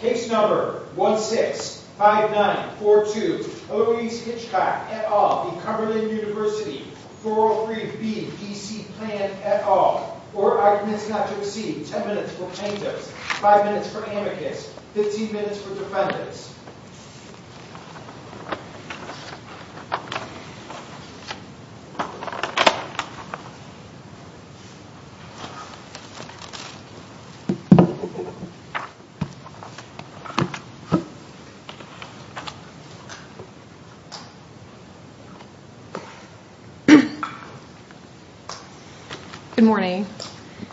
165942 Odoese Hitchcock v. Cumberland Univ 403B D.C. P.A. 10 minutes for plaintiffs, 5 minutes for amicus, 15 minutes for defendants Good morning.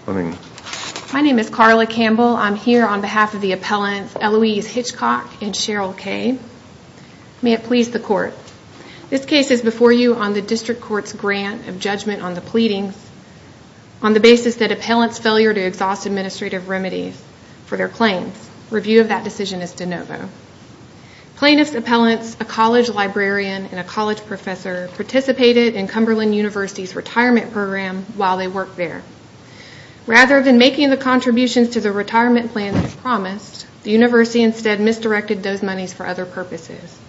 My name is Carla Campbell. I'm here on behalf of the appellants Eloise Hitchcock and Cheryl Kaye. May it please the court. This case is before you on the district court's grant of judgment on the pleadings on the basis that appellants' failure to exhaust administrative remedies for their claims. Review of that decision is de novo. Plaintiffs' appellants, a college librarian and a college professor, participated in Cumberland University's retirement program while they worked there. Rather than making the contributions to the retirement plan they promised, the university instead misdirected those monies for other purposes.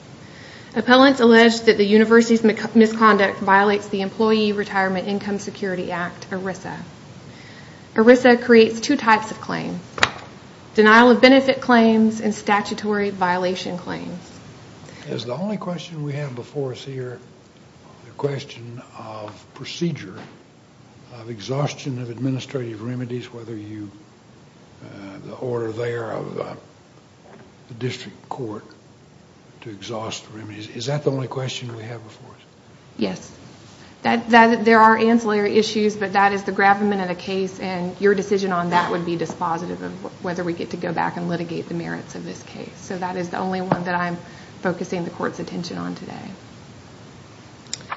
Appellants allege that the university's misconduct violates the Employee Retirement Income Security Act, ERISA. ERISA creates two types of claims, denial of benefit claims and statutory violation claims. Is the only question we have before us here the question of procedure of exhaustion of administrative remedies? Whether the order there of the district court to exhaust the remedies, is that the only question we have before us? Yes. There are ancillary issues but that is the gravamen of the case and your decision on that would be dispositive of whether we get to go back and litigate the merits of this case. So that is the only one that I'm focusing the court's attention on today.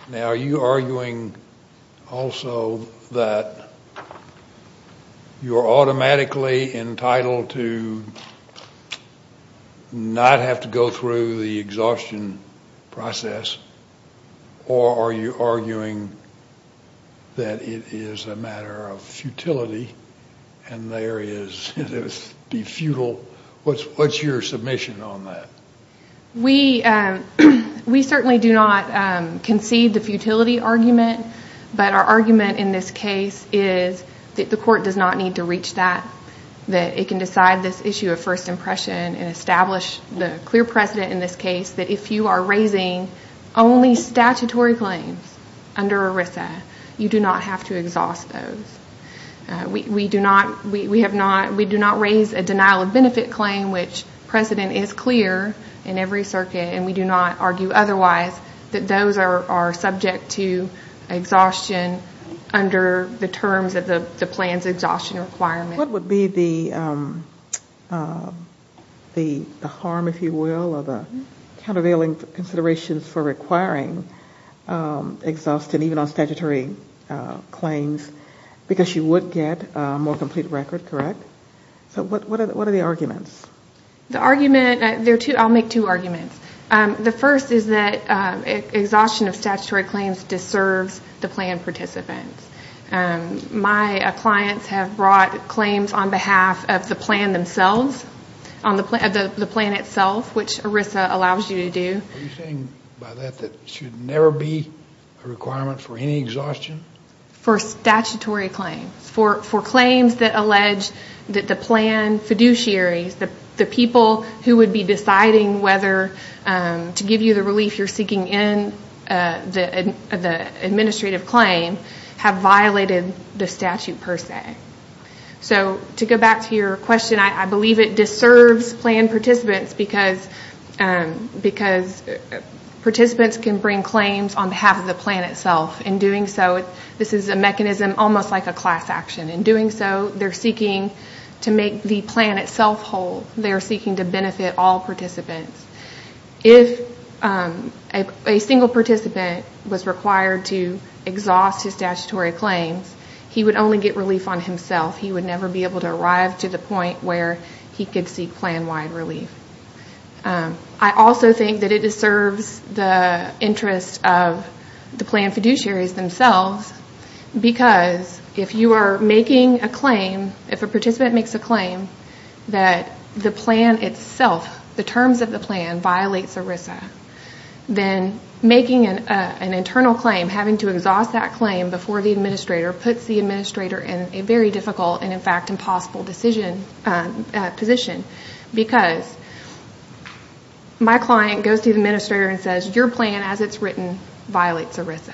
Now are you arguing also that you're automatically entitled to not have to go through the exhaustion process? Or are you arguing that it is a matter of futility and there is, be futile, what's your submission on that? We certainly do not concede the futility argument but our argument in this case is that the court does not need to reach that. That it can decide this issue of first impression and establish the clear precedent in this case that if you are raising only statutory claims under ERISA, you do not have to exhaust those. We do not raise a denial of benefit claim which precedent is clear in every circuit and we do not argue otherwise that those are subject to exhaustion under the terms of the plan's exhaustion requirement. What would be the harm, if you will, or the countervailing considerations for requiring exhaustion even on statutory claims because you would get a more complete record, correct? So what are the arguments? The argument, I'll make two arguments. The first is that exhaustion of statutory claims deserves the plan participants. My clients have brought claims on behalf of the plan themselves, the plan itself, which ERISA allows you to do. Are you saying by that that there should never be a requirement for any exhaustion? For statutory claims, for claims that allege that the plan fiduciaries, the people who would be deciding whether to give you the relief you're seeking in the administrative claim, have violated the statute per se. To go back to your question, I believe it deserves plan participants because participants can bring claims on behalf of the plan itself. In doing so, this is a mechanism almost like a class action. In doing so, they're seeking to make the plan itself whole. They're seeking to benefit all participants. If a single participant was required to exhaust his statutory claims, he would only get relief on himself. He would never be able to arrive to the point where he could seek plan-wide relief. I also think that it deserves the interest of the plan fiduciaries themselves because if a participant makes a claim that the plan itself, the terms of the plan, violates ERISA, then making an internal claim, having to exhaust that claim before the administrator, puts the administrator in a very difficult and, in fact, impossible position. Because my client goes to the administrator and says, your plan as it's written violates ERISA.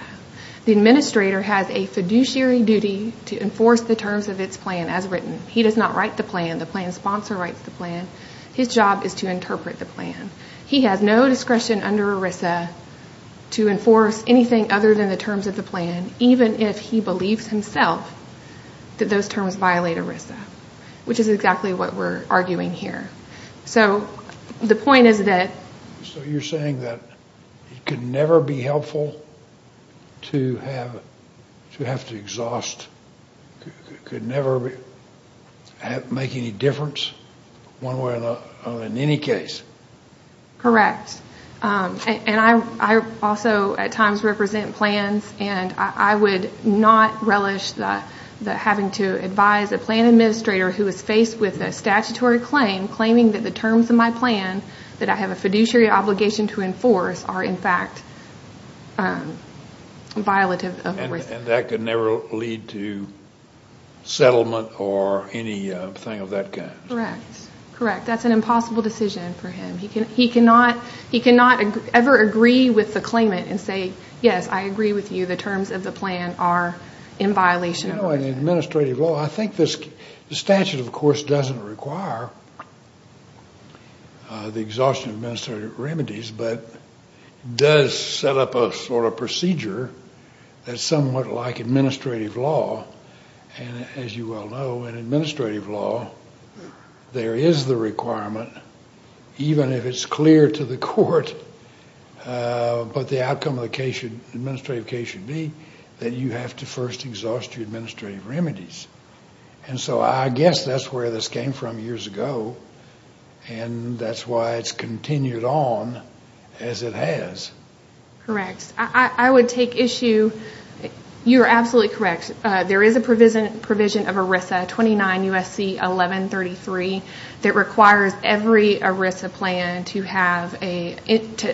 The administrator has a fiduciary duty to enforce the terms of its plan as written. He does not write the plan. The plan sponsor writes the plan. His job is to interpret the plan. He has no discretion under ERISA to enforce anything other than the terms of the plan, even if he believes himself that those terms violate ERISA, which is exactly what we're arguing here. So the point is that... to have to exhaust could never make any difference one way or another in any case. Correct. I also at times represent plans, and I would not relish having to advise a plan administrator who is faced with a statutory claim, claiming that the terms of my plan that I have a fiduciary obligation to enforce are, in fact, violative of ERISA. And that could never lead to settlement or anything of that kind. Correct. Correct. That's an impossible decision for him. He cannot ever agree with the claimant and say, yes, I agree with you, the terms of the plan are in violation of ERISA. I think the statute, of course, doesn't require the exhaustion of administrative remedies, but does set up a sort of procedure that's somewhat like administrative law. And as you well know, in administrative law, there is the requirement, even if it's clear to the court, but the outcome of the administrative case should be that you have to first exhaust your administrative remedies. And so I guess that's where this came from years ago, and that's why it's continued on as it has. Correct. I would take issue... you're absolutely correct. There is a provision of ERISA 29 U.S.C. 1133 that requires every ERISA plan to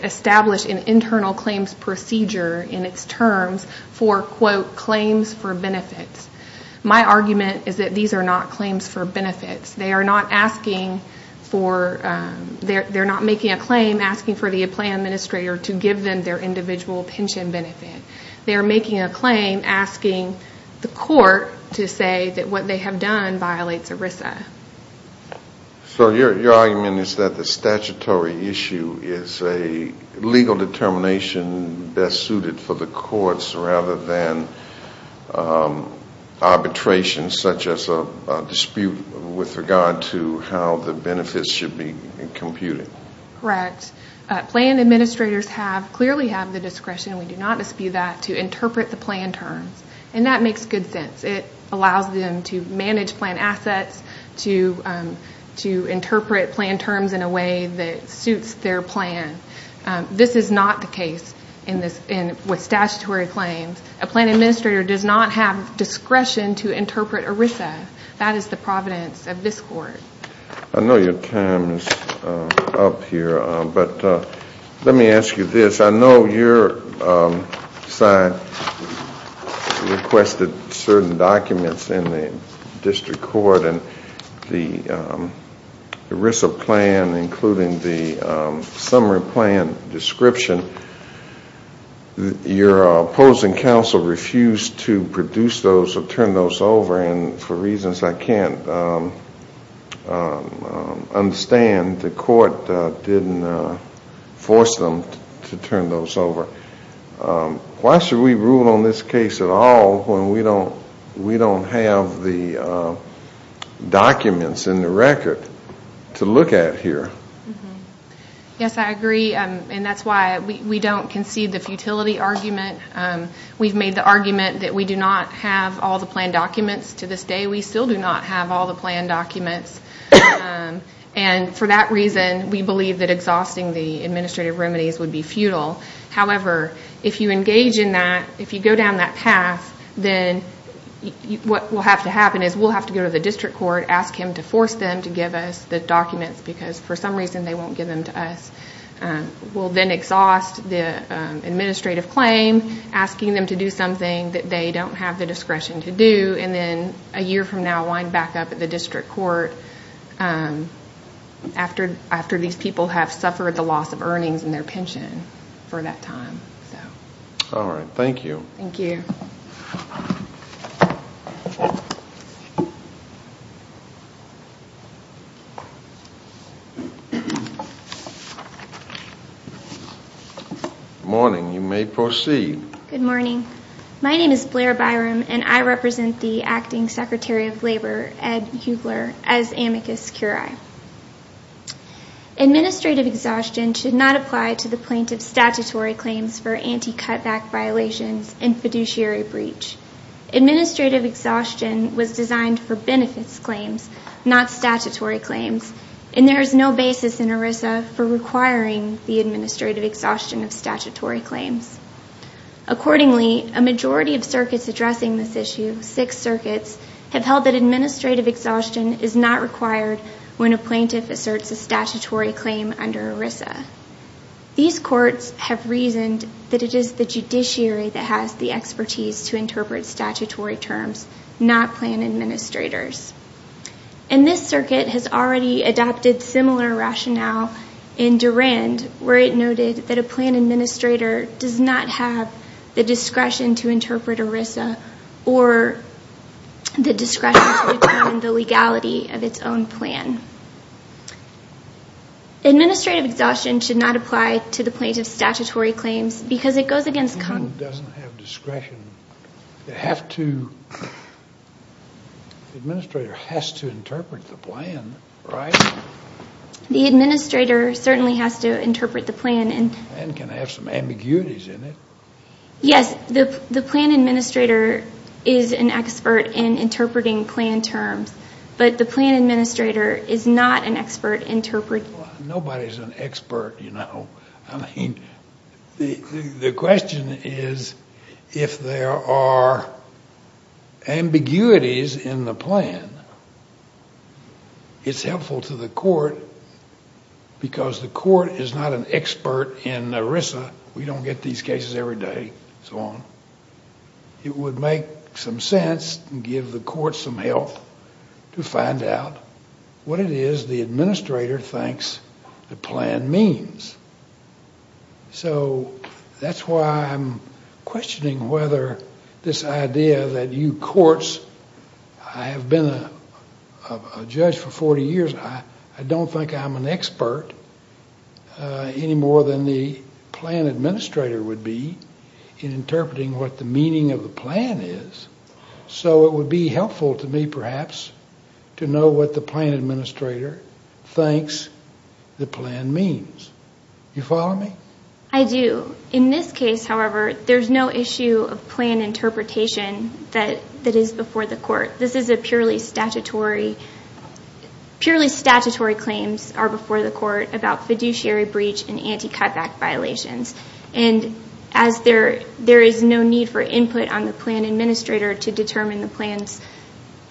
establish an internal claims procedure in its terms for, quote, claims for benefits. My argument is that these are not claims for benefits. They are not making a claim asking for the plan administrator to give them their individual pension benefit. They are making a claim asking the court to say that what they have done violates ERISA. So your argument is that the statutory issue is a legal determination best suited for the courts rather than arbitration, such as a dispute with regard to how the benefits should be computed. Correct. Plan administrators clearly have the discretion, and we do not dispute that, to interpret the plan terms. And that makes good sense. It allows them to manage plan assets, to interpret plan terms in a way that suits their plan. This is not the case with statutory claims. A plan administrator does not have discretion to interpret ERISA. That is the providence of this court. I know your time is up here, but let me ask you this. I know your side requested certain documents in the district court, and the ERISA plan, including the summary plan description, your opposing counsel refused to produce those or turn those over, and for reasons I cannot understand, the court did not force them to turn those over. Why should we rule on this case at all when we do not have the documents in the record to look at here? Yes, I agree. And that's why we don't concede the futility argument. We've made the argument that we do not have all the planned documents. To this day, we still do not have all the planned documents. And for that reason, we believe that exhausting the administrative remedies would be futile. However, if you engage in that, if you go down that path, then what will have to happen is we'll have to go to the district court, ask him to force them to give us the documents because for some reason they won't give them to us. We'll then exhaust the administrative claim, asking them to do something that they don't have the discretion to do, and then a year from now wind back up at the district court after these people have suffered the loss of earnings and their pension for that time. All right. Thank you. Thank you. Good morning. You may proceed. Good morning. My name is Blair Byram, and I represent the Acting Secretary of Labor, Ed Huebler, as amicus curiae. Administrative exhaustion should not apply to the plaintiff's statutory claims for anti-cutback violations and fiduciary breach. Administrative exhaustion was designed for benefits claims, not statutory claims, and there is no basis in ERISA for requiring the administrative exhaustion of statutory claims. Accordingly, a majority of circuits addressing this issue, six circuits, have held that administrative exhaustion is not required when a plaintiff asserts a statutory claim under ERISA. These courts have reasoned that it is the judiciary that has the expertise to interpret statutory terms, not plan administrators. And this circuit has already adopted similar rationale in Durand, where it noted that a plan administrator does not have the discretion to interpret ERISA or the discretion to determine the legality of its own plan. Administrative exhaustion should not apply to the plaintiff's statutory claims because it goes against common... Doesn't have discretion. They have to... The administrator has to interpret the plan, right? The administrator certainly has to interpret the plan and... And can have some ambiguities in it. Yes, the plan administrator is an expert in interpreting plan terms, but the plan administrator is not an expert in interpreting... Nobody's an expert, you know. I mean, the question is if there are ambiguities in the plan, it's helpful to the court because the court is not an expert in ERISA. We don't get these cases every day and so on. It would make some sense and give the court some help to find out what it is the administrator thinks the plan means. So that's why I'm questioning whether this idea that you courts... I have been a judge for 40 years. I don't think I'm an expert any more than the plan administrator would be in interpreting what the meaning of the plan is. So it would be helpful to me, perhaps, to know what the plan administrator thinks the plan means. You follow me? I do. In this case, however, there's no issue of plan interpretation that is before the court. This is a purely statutory... Purely statutory claims are before the court about fiduciary breach and anti-cutback violations. And as there is no need for input on the plan administrator to determine the plan's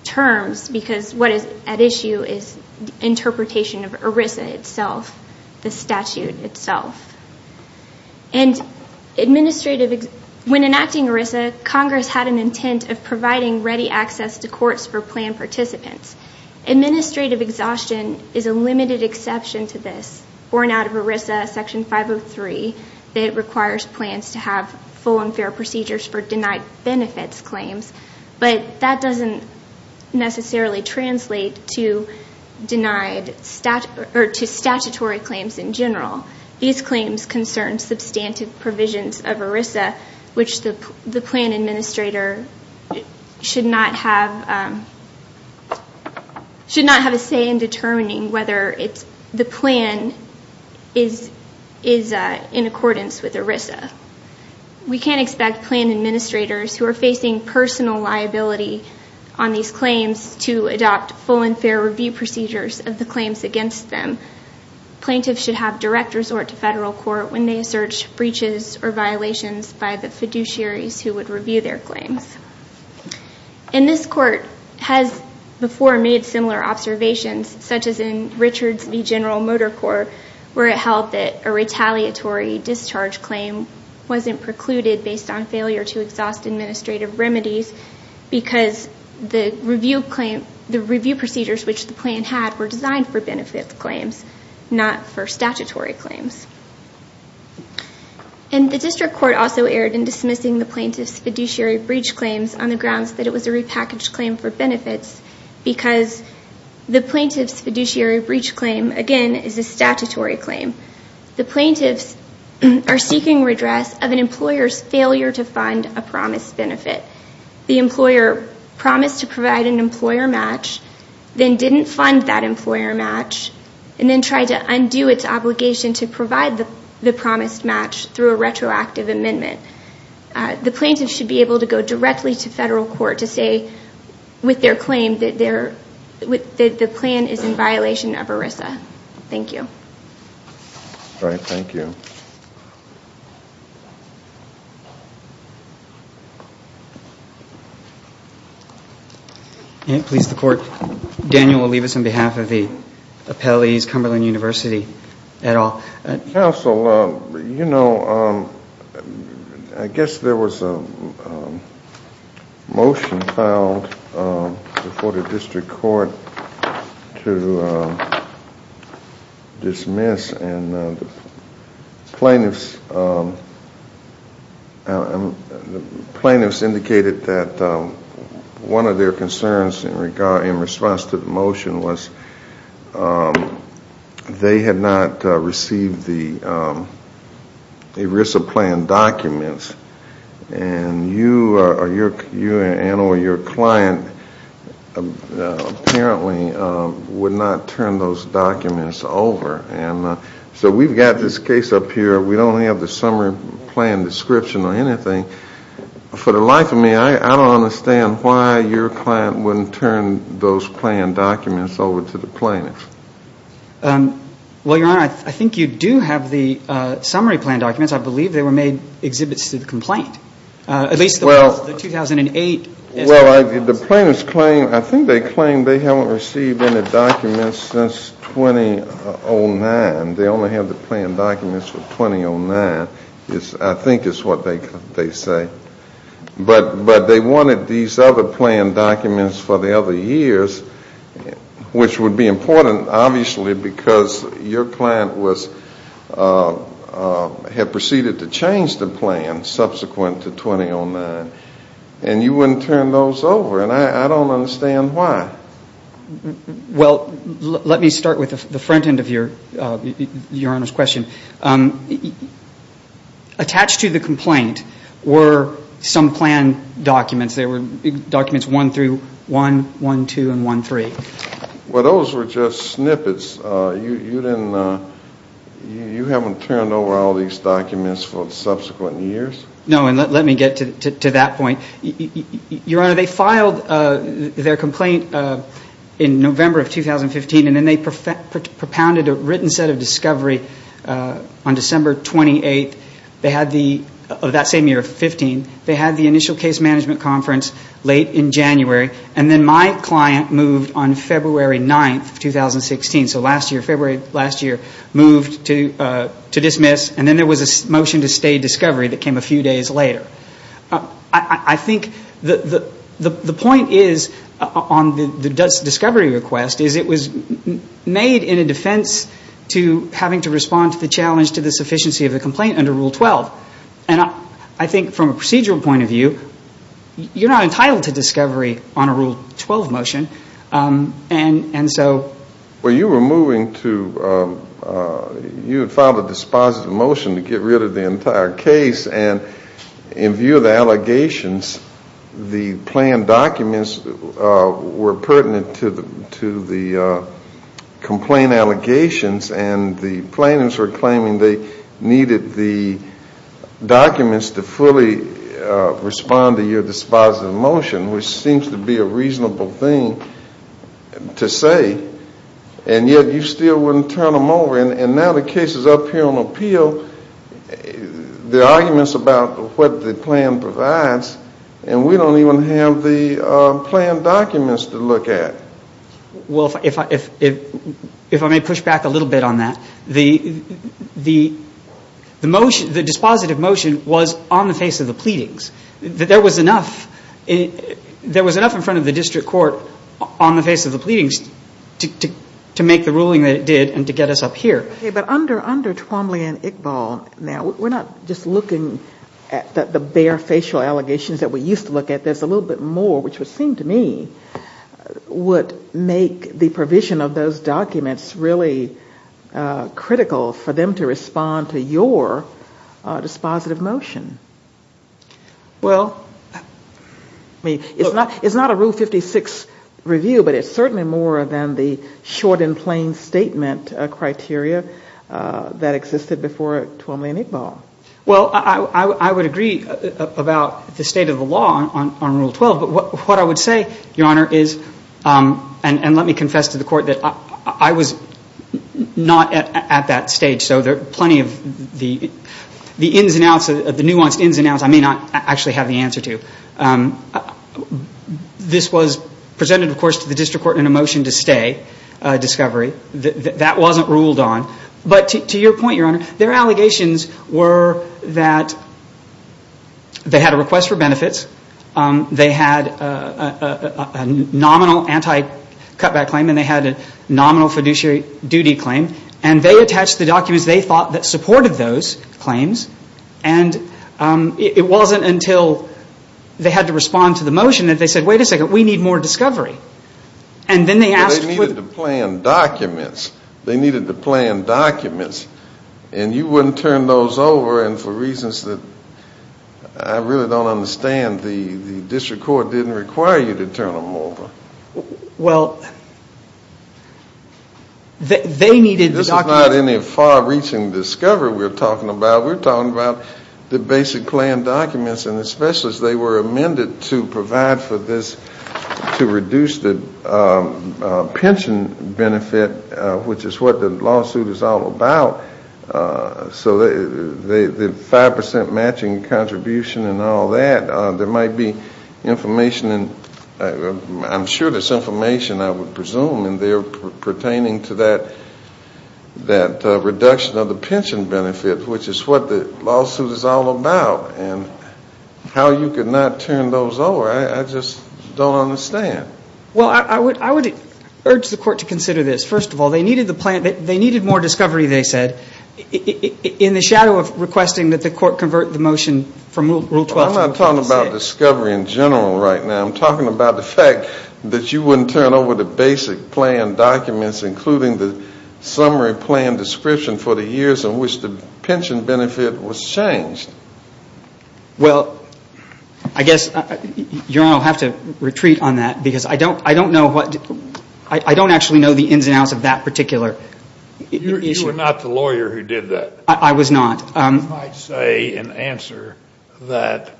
terms because what is at issue is interpretation of ERISA itself, the statute itself. And administrative... When enacting ERISA, Congress had an intent of providing ready access to courts for plan participants. Administrative exhaustion is a limited exception to this. Born out of ERISA Section 503, it requires plans to have full and fair procedures for denied benefits claims. But that doesn't necessarily translate to statutory claims in general. These claims concern substantive provisions of ERISA, which the plan administrator should not have a say in determining whether the plan is in accordance with ERISA. We can't expect plan administrators who are facing personal liability on these claims to adopt full and fair review procedures of the claims against them. Plaintiffs should have direct resort to federal court when they assert breaches or violations by the fiduciaries who would review their claims. And this court has before made similar observations, such as in Richards v. General Motor Corps, where it held that a retaliatory discharge claim wasn't precluded based on failure to exhaust administrative remedies because the review procedures which the plan had were designed for benefit claims, not for statutory claims. And the district court also erred in dismissing the plaintiff's fiduciary breach claims on the grounds that it was a repackaged claim for benefits because the plaintiff's fiduciary breach claim, again, is a statutory claim. The plaintiffs are seeking redress of an employer's failure to fund a promised benefit. The employer promised to provide an employer match, then didn't fund that employer match, and then tried to undo its obligation to provide the promised match through a retroactive amendment. The plaintiff should be able to go directly to federal court to say, with their claim, that the plan is in violation of ERISA. Thank you. All right, thank you. Please, the court. Daniel will leave us on behalf of the appellees, Cumberland University, et al. Counsel, you know, I guess there was a motion filed before the district court to dismiss, and the plaintiffs indicated that one of their concerns in response to the motion was that they had not received the ERISA plan documents, and you and or your client apparently would not turn those documents over. So we've got this case up here. We don't have the summary plan description or anything. For the life of me, I don't understand why your client wouldn't turn those plan documents over to the plaintiffs. Well, Your Honor, I think you do have the summary plan documents. I believe they were made exhibits to the complaint, at least the 2008. Well, the plaintiffs claim, I think they claim they haven't received any documents since 2009. They only have the plan documents from 2009, I think is what they say. But they wanted these other plan documents for the other years, which would be important, obviously, because your client had proceeded to change the plan subsequent to 2009, and you wouldn't turn those over, and I don't understand why. Well, let me start with the front end of Your Honor's question. Attached to the complaint were some plan documents. They were documents 1-1, 1-2, and 1-3. Well, those were just snippets. You haven't turned over all these documents for subsequent years? No, and let me get to that point. Your Honor, they filed their complaint in November of 2015, and then they propounded a written set of discovery on December 28th of that same year, 15. They had the initial case management conference late in January, and then my client moved on February 9th, 2016. So last year, February last year, moved to dismiss, and then there was a motion to stay discovery that came a few days later. I think the point is, on the discovery request, is it was made in a defense to having to respond to the challenge to the sufficiency of the complaint under Rule 12. And I think from a procedural point of view, you're not entitled to discovery on a Rule 12 motion, and so. Well, you were moving to, you had filed a dispositive motion to get rid of the entire case, and in view of the allegations, the planned documents were pertinent to the complaint allegations, and the plaintiffs were claiming they needed the documents to fully respond to your dispositive motion, which seems to be a reasonable thing to say, and yet you still wouldn't turn them over. And now the case is up here on appeal. There are arguments about what the plan provides, and we don't even have the planned documents to look at. Well, if I may push back a little bit on that, the motion, the dispositive motion was on the face of the pleadings. There was enough in front of the district court on the face of the pleadings to make the ruling that it did and to get us up here. Okay, but under Twombly and Iqbal, now, we're not just looking at the bare facial allegations that we used to look at. There's a little bit more, which would seem to me would make the provision of those documents really critical for them to respond to your dispositive motion. Well, I mean, it's not a Rule 56 review, but it's certainly more than the short and plain statement criteria that existed before Twombly and Iqbal. Well, I would agree about the state of the law on Rule 12. But what I would say, Your Honor, is, and let me confess to the Court that I was not at that stage. So there are plenty of the ins and outs, the nuanced ins and outs I may not actually have the answer to. This was presented, of course, to the district court in a motion to stay discovery. That wasn't ruled on. But to your point, Your Honor, their allegations were that they had a request for benefits, they had a nominal anti-cutback claim, and they had a nominal fiduciary duty claim. And they attached the documents they thought that supported those claims. And it wasn't until they had to respond to the motion that they said, wait a second, we need more discovery. And then they asked for... But they needed to plan documents. They needed to plan documents. And you wouldn't turn those over, and for reasons that I really don't understand, the district court didn't require you to turn them over. Well, they needed the documents. This is not any far-reaching discovery we're talking about. We're talking about the basic plan documents. And the specialists, they were amended to provide for this, to reduce the pension benefit, which is what the lawsuit is all about. So the 5% matching contribution and all that, there might be information, I'm sure there's information, I would presume, pertaining to that reduction of the pension benefit, which is what the lawsuit is all about. And how you could not turn those over, I just don't understand. Well, I would urge the court to consider this. First of all, they needed more discovery, they said, in the shadow of requesting that the court convert the motion from Rule 12. I'm not talking about discovery in general right now. I'm talking about the fact that you wouldn't turn over the basic plan documents, including the summary plan description for the years in which the pension benefit was changed. Well, I guess Your Honor will have to retreat on that because I don't know what, I don't actually know the ins and outs of that particular issue. You were not the lawyer who did that. I was not. You might say in answer that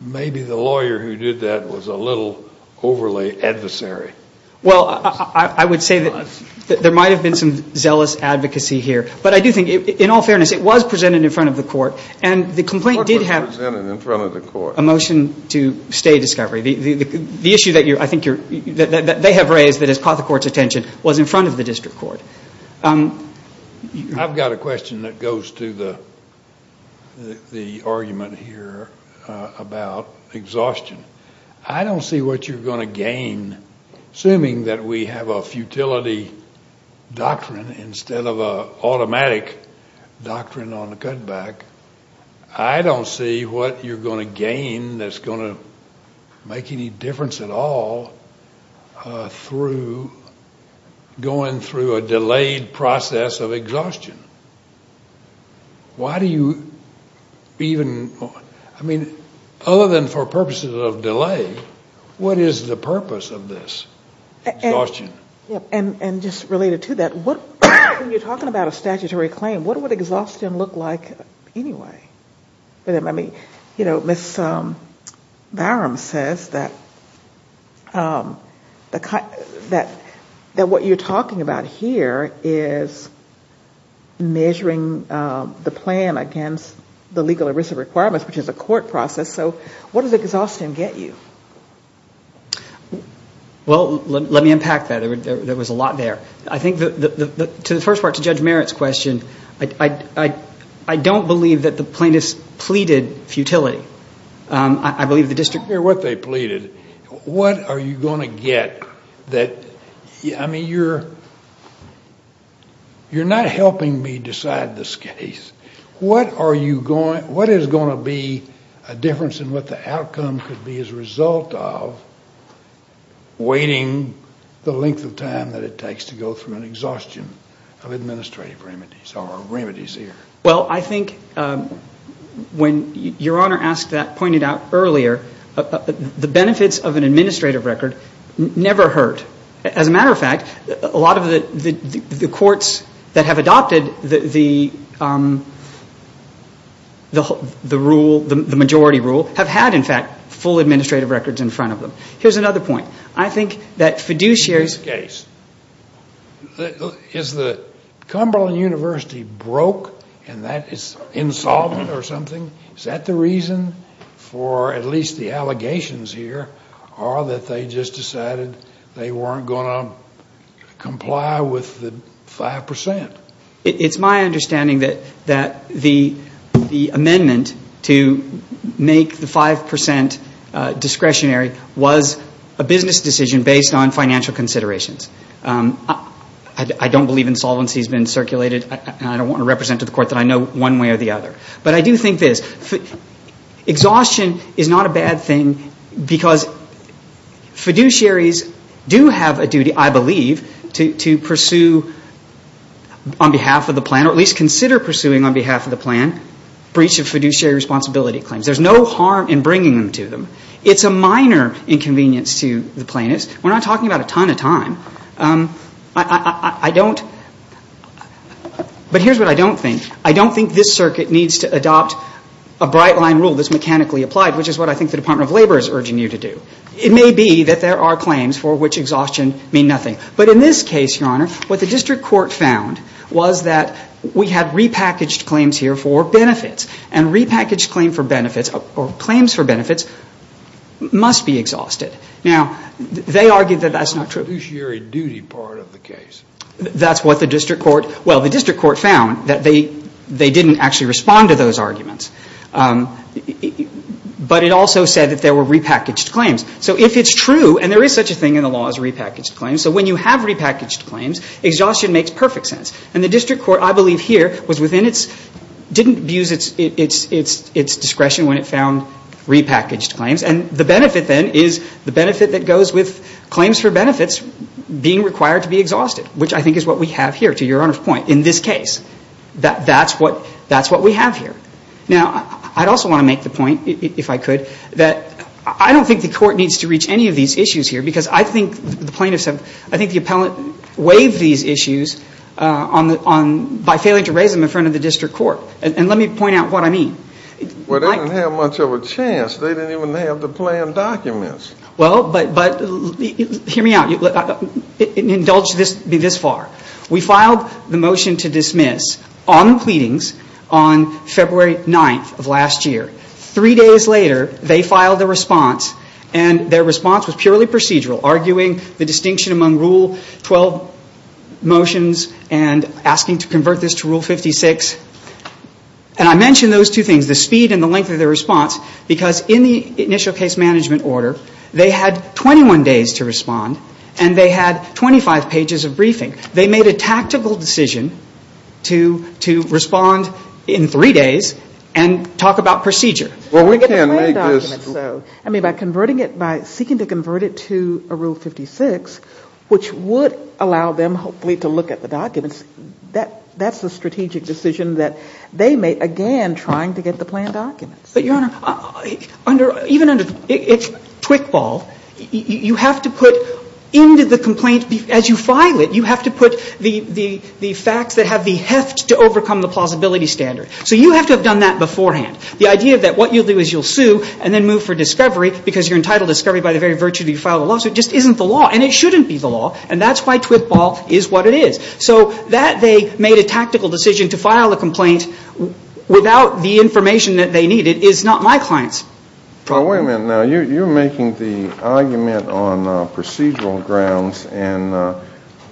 maybe the lawyer who did that was a little overly adversary. Well, I would say that there might have been some zealous advocacy here. But I do think, in all fairness, it was presented in front of the court. And the complaint did have a motion to stay discovery. The issue that I think they have raised that has caught the court's attention was in front of the district court. I've got a question that goes to the argument here about exhaustion. I don't see what you're going to gain. Assuming that we have a futility doctrine instead of an automatic doctrine on the cutback, I don't see what you're going to gain that's going to make any difference at all through going through a delayed process of exhaustion. Why do you even, I mean, other than for purposes of delay, what is the purpose of this exhaustion? And just related to that, when you're talking about a statutory claim, what would exhaustion look like anyway? I mean, you know, Ms. Barham says that what you're talking about here is measuring the plan against the legal arrears of requirements, which is a court process. So what does exhaustion get you? Well, let me impact that. There was a lot there. I think to the first part, to Judge Merritt's question, I don't believe that the plaintiffs pleaded futility. I believe the district court did. I don't care what they pleaded. What are you going to get that, I mean, you're not helping me decide this case. What is going to be a difference in what the outcome could be as a result of waiting the length of time that it takes to go through an exhaustion of administrative remedies or remedies here? Well, I think when Your Honor asked that, pointed out earlier, the benefits of an administrative record never hurt. As a matter of fact, a lot of the courts that have adopted the rule, the majority rule, have had, in fact, full administrative records in front of them. Here's another point. I think that Fiduciary's case, is the Cumberland University broke and that is insolvent or something? Is that the reason for at least the allegations here or that they just decided they weren't going to comply with the 5%? It's my understanding that the amendment to make the 5% discretionary was a business decision based on financial considerations. I don't believe insolvency has been circulated and I don't want to represent to the court that I know one way or the other. But I do think this. Exhaustion is not a bad thing because Fiduciary's do have a duty, I believe, to pursue on behalf of the plan, or at least consider pursuing on behalf of the plan, breach of Fiduciary responsibility claims. There's no harm in bringing them to them. It's a minor inconvenience to the plaintiffs. We're not talking about a ton of time. I don't, but here's what I don't think. I don't think this circuit needs to adopt a bright line rule that's mechanically applied, which is what I think the Department of Labor is urging you to do. It may be that there are claims for which exhaustion means nothing. But in this case, Your Honor, what the district court found was that we had repackaged claims here for benefits. And repackaged claims for benefits must be exhausted. Now, they argued that that's not true. The Fiduciary duty part of the case. That's what the district court, well, the district court found, that they didn't actually respond to those arguments. But it also said that there were repackaged claims. So if it's true, and there is such a thing in the law as repackaged claims, so when you have repackaged claims, exhaustion makes perfect sense. And the district court, I believe here, was within its, didn't abuse its discretion when it found repackaged claims. And the benefit, then, is the benefit that goes with claims for benefits being required to be exhausted, which I think is what we have here, to Your Honor's point, in this case. That's what we have here. Now, I'd also want to make the point, if I could, that I don't think the court needs to reach any of these issues here because I think the plaintiffs have, I think the appellant waived these issues by failing to raise them in front of the district court. And let me point out what I mean. Well, they didn't have much of a chance. They didn't even have the planned documents. Well, but hear me out. Indulge me this far. We filed the motion to dismiss on the pleadings on February 9th of last year. Three days later, they filed a response, and their response was purely procedural, arguing the distinction among Rule 12 motions and asking to convert this to Rule 56. And I mention those two things, the speed and the length of their response, because in the initial case management order, they had 21 days to respond, and they had 25 pages of briefing. They made a tactical decision to respond in three days and talk about procedure. Well, we can't make this. I mean, by converting it, by seeking to convert it to a Rule 56, which would allow them, hopefully, to look at the documents, that's a strategic decision that they made, again, trying to get the planned documents. But, Your Honor, even under Twickball, you have to put into the complaint, as you file it, you have to put the facts that have the heft to overcome the plausibility standard. So you have to have done that beforehand. The idea that what you'll do is you'll sue and then move for discovery because you're entitled to discovery by the very virtue that you filed the lawsuit just isn't the law. And it shouldn't be the law. And that's why Twickball is what it is. So that they made a tactical decision to file a complaint without the information that they needed is not my client's. Wait a minute. Now, you're making the argument on procedural grounds. And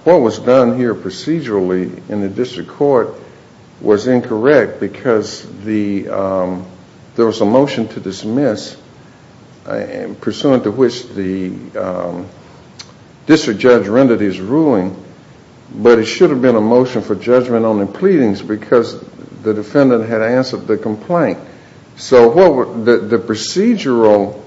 what was done here procedurally in the district court was incorrect because there was a motion to dismiss, pursuant to which the district judge rendered his ruling. But it should have been a motion for judgment on the pleadings because the defendant had answered the complaint. So the procedural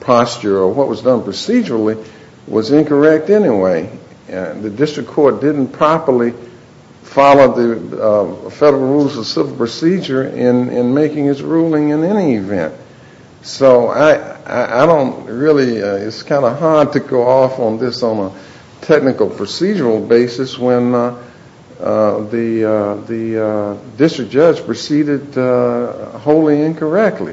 posture, or what was done procedurally, was incorrect anyway. The district court didn't properly follow the federal rules of civil procedure in making its ruling in any event. So I don't really, it's kind of hard to go off on this on a technical procedural basis when the district judge proceeded wholly incorrectly.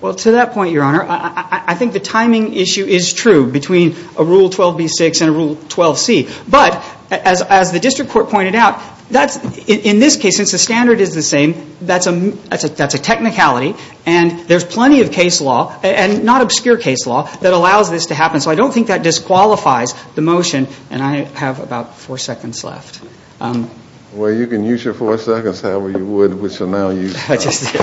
Well, to that point, Your Honor, I think the timing issue is true between a Rule 12b-6 and a Rule 12c. But as the district court pointed out, in this case, since the standard is the same, that's a technicality. And there's plenty of case law, and not obscure case law, that allows this to happen. So I don't think that disqualifies the motion. And I have about four seconds left. Well, you can use your four seconds however you would, which you'll now use. I just did.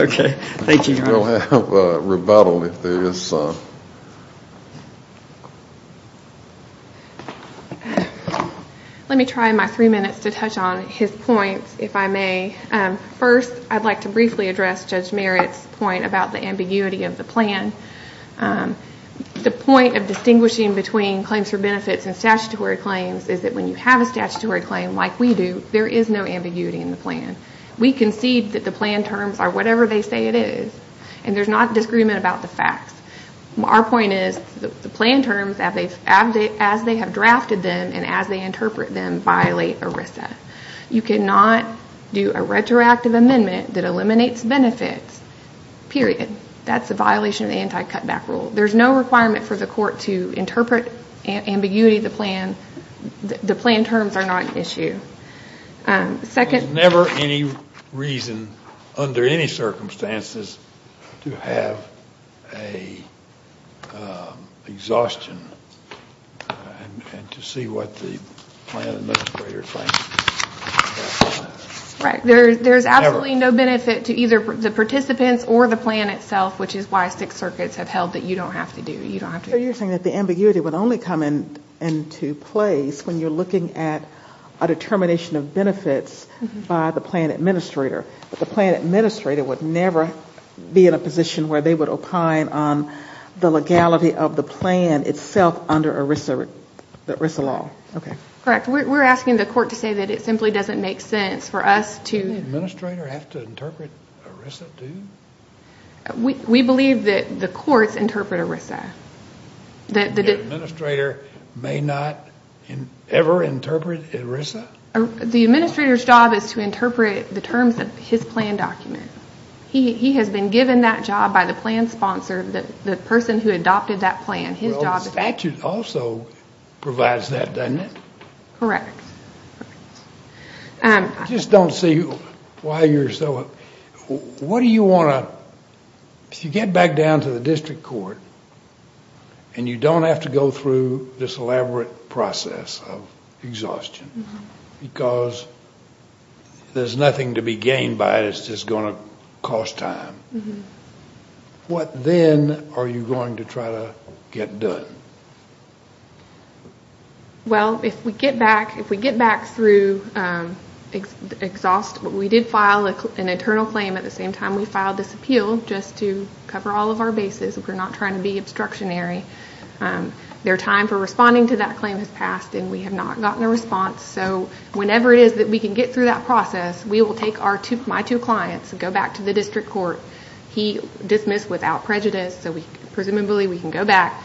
Okay. Thank you, Your Honor. You'll have rebuttal if there is some. Let me try my three minutes to touch on his points, if I may. First, I'd like to briefly address Judge Merritt's point about the ambiguity of the plan. The point of distinguishing between claims for benefits and statutory claims is that when you have a statutory claim like we do, there is no ambiguity in the plan. We concede that the plan terms are whatever they say it is. And there's not disagreement about the facts. Our point is the plan terms, as they have drafted them and as they interpret them, violate ERISA. You cannot do a retroactive amendment that eliminates benefits, period. That's a violation of the anti-cutback rule. There's no requirement for the court to interpret ambiguity of the plan. Second. There's never any reason under any circumstances to have an exhaustion and to see what the plan administrator thinks. Right. There's absolutely no benefit to either the participants or the plan itself, which is why six circuits have held that you don't have to do it. So you're saying that the ambiguity would only come into place when you're looking at a determination of benefits by the plan administrator, but the plan administrator would never be in a position where they would opine on the legality of the plan itself under the ERISA law. Okay. Correct. We're asking the court to say that it simply doesn't make sense for us to Does the administrator have to interpret ERISA, too? We believe that the courts interpret ERISA. The administrator may not ever interpret ERISA? The administrator's job is to interpret the terms of his plan document. He has been given that job by the plan sponsor, the person who adopted that plan. Well, the statute also provides that, doesn't it? Correct. I just don't see why you're so What do you want to If you get back down to the district court and you don't have to go through this elaborate process of exhaustion because there's nothing to be gained by it, it's just going to cost time, what then are you going to try to get done? Well, if we get back through exhaust We did file an internal claim at the same time we filed this appeal just to cover all of our bases. We're not trying to be obstructionary. Their time for responding to that claim has passed and we have not gotten a response. So whenever it is that we can get through that process, we will take my two clients and go back to the district court. He dismissed without prejudice, so presumably we can go back.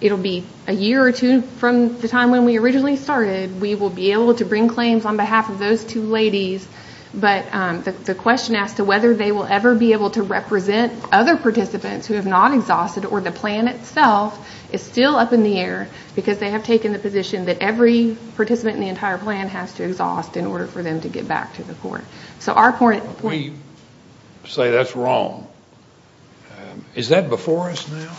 It'll be a year or two from the time when we originally started. We will be able to bring claims on behalf of those two ladies. But the question as to whether they will ever be able to represent other participants who have not exhausted or the plan itself is still up in the air because they have taken the position that every participant in the entire plan has to exhaust in order for them to get back to the court. If we say that's wrong, is that before us now?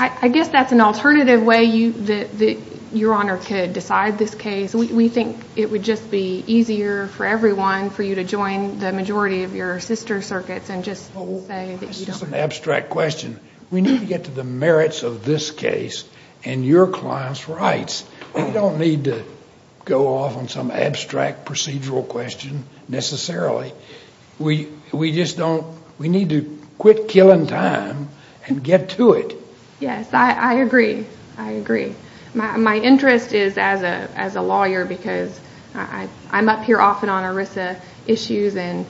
I guess that's an alternative way that Your Honor could decide this case. We think it would just be easier for everyone for you to join the majority of your sister circuits and just say that you don't. This is an abstract question. We need to get to the merits of this case and your client's rights. We don't need to go off on some abstract procedural question necessarily. We just don't. We need to quit killing time and get to it. Yes, I agree. I agree. My interest is as a lawyer because I'm up here often on ERISA issues, and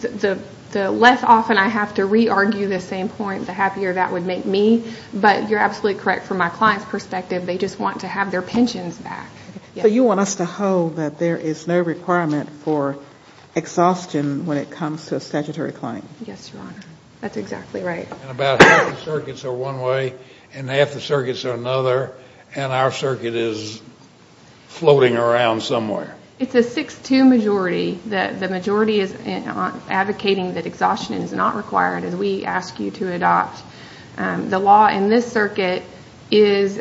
the less often I have to re-argue the same point, the happier that would make me. But you're absolutely correct from my client's perspective. They just want to have their pensions back. So you want us to hold that there is no requirement for exhaustion when it comes to a statutory claim? Yes, Your Honor. That's exactly right. About half the circuits are one way and half the circuits are another, and our circuit is floating around somewhere. It's a 6-2 majority. The majority is advocating that exhaustion is not required as we ask you to adopt. The law in this circuit is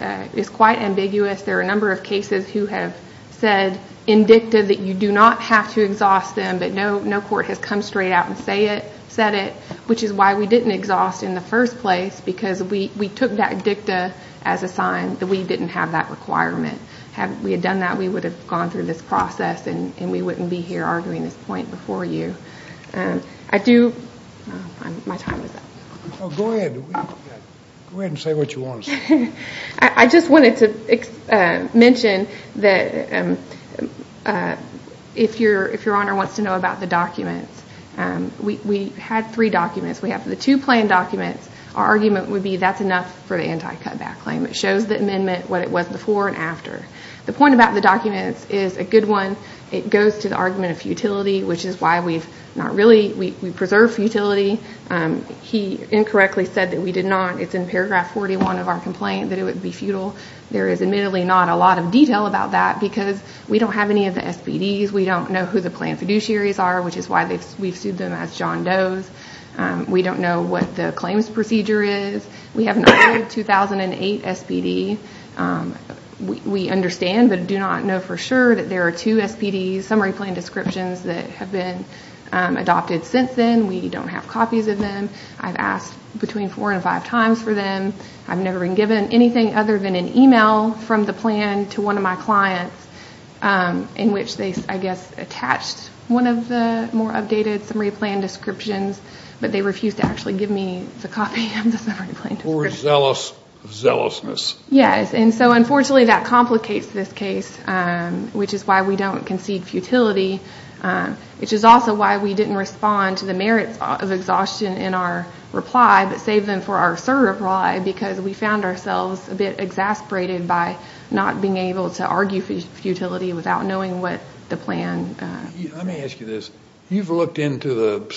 quite ambiguous. There are a number of cases who have said in dicta that you do not have to exhaust them, but no court has come straight out and said it, which is why we didn't exhaust in the first place because we took that dicta as a sign that we didn't have that requirement. Had we done that, we would have gone through this process and we wouldn't be here arguing this point before you. My time is up. Go ahead. Go ahead and say what you want to say. I just wanted to mention that if Your Honor wants to know about the documents, we had three documents. We have the two planned documents. Our argument would be that's enough for the anti-cutback claim. It shows the amendment what it was before and after. The point about the documents is a good one. It goes to the argument of futility, which is why we preserve futility. He incorrectly said that we did not. It's in paragraph 41 of our complaint that it would be futile. There is admittedly not a lot of detail about that because we don't have any of the SPDs. We don't know who the planned fiduciaries are, which is why we've sued them as John Does. We don't know what the claims procedure is. We have an old 2008 SPD. We understand but do not know for sure that there are two SPD summary plan descriptions that have been adopted since then. We don't have copies of them. I've asked between four and five times for them. I've never been given anything other than an email from the plan to one of my clients in which they, I guess, attached one of the more updated summary plan descriptions, but they refused to actually give me the copy of the summary plan description. The poor zealous of zealousness. Yes, and so unfortunately that complicates this case, which is why we don't concede futility, which is also why we didn't respond to the merits of exhaustion in our reply but saved them for our SIR reply because we found ourselves a bit exasperated by not being able to argue futility without knowing what the plan was. Let me ask you this. You've looked into the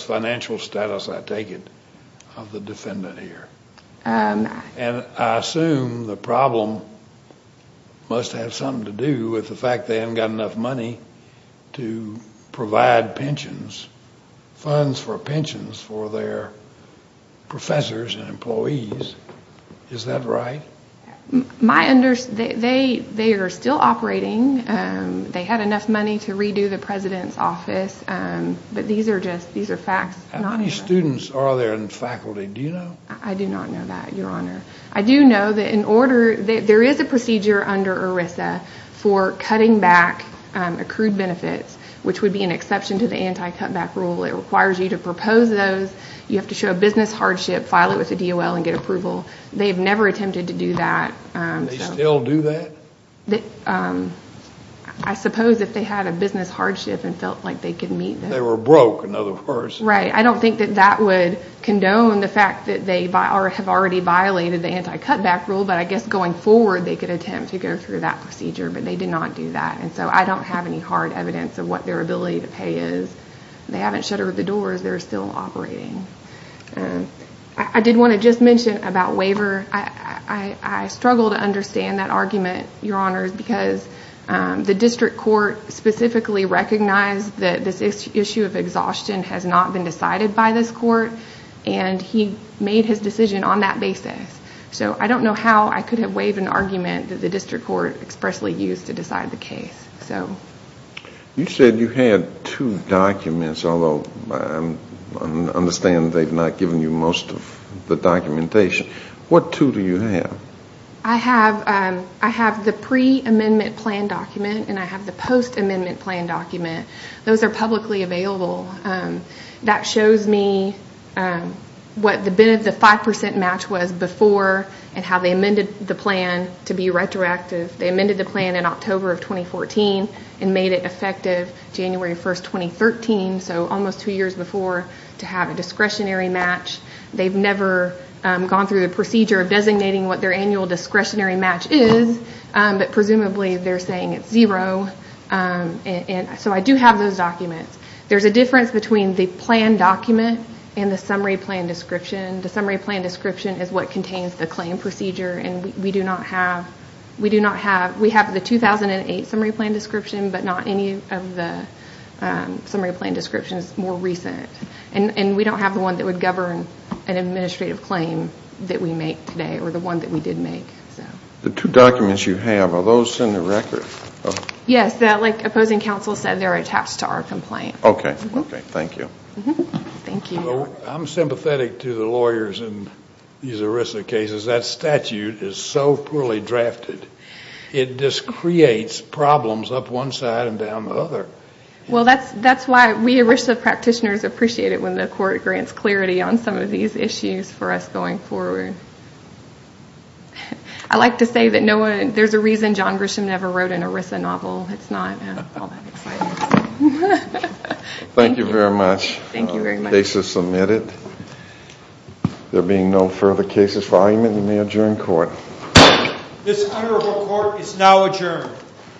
financial status, I take it, of the defendant here, and I assume the problem must have something to do with the fact they haven't got enough money to provide pensions, funds for pensions for their professors and employees. Is that right? They are still operating. They had enough money to redo the president's office, but these are facts. How many students are there in faculty? Do you know? I do not know that, Your Honor. I do know that there is a procedure under ERISA for cutting back accrued benefits, which would be an exception to the anti-cutback rule. It requires you to propose those. You have to show a business hardship, file it with the DOL and get approval. They've never attempted to do that. Do they still do that? I suppose if they had a business hardship and felt like they could meet that. They were broke, in other words. Right. I don't think that that would condone the fact that they have already violated the anti-cutback rule, but I guess going forward they could attempt to go through that procedure, but they did not do that. So I don't have any hard evidence of what their ability to pay is. They haven't shuttered the doors. They're still operating. I did want to just mention about waiver. I struggle to understand that argument, Your Honor, because the district court specifically recognized that this issue of exhaustion has not been decided by this court, and he made his decision on that basis. So I don't know how I could have waived an argument that the district court expressly used to decide the case. You said you had two documents, although I understand they've not given you most of the documentation. What two do you have? I have the pre-amendment plan document and I have the post-amendment plan document. Those are publicly available. That shows me what the 5% match was before and how they amended the plan to be retroactive. They amended the plan in October of 2014 and made it effective January 1, 2013, so almost two years before, to have a discretionary match. They've never gone through the procedure of designating what their annual discretionary match is, but presumably they're saying it's zero. So I do have those documents. There's a difference between the plan document and the summary plan description. The summary plan description is what contains the claim procedure, and we have the 2008 summary plan description, but not any of the summary plan descriptions more recent. And we don't have the one that would govern an administrative claim that we make today, or the one that we did make. The two documents you have, are those in the record? Yes, like opposing counsel said, they're attached to our complaint. Okay, thank you. I'm sympathetic to the lawyers in these ERISA cases. That statute is so poorly drafted, it just creates problems up one side and down the other. Well, that's why we ERISA practitioners appreciate it when the court grants clarity on some of these issues for us going forward. I like to say that there's a reason John Grisham never wrote an ERISA novel. It's not all that exciting. Thank you very much. Thank you very much. The case is submitted. There being no further cases for argument, we may adjourn court. This honorable court is now adjourned. Thank you. Thank you. Thank you.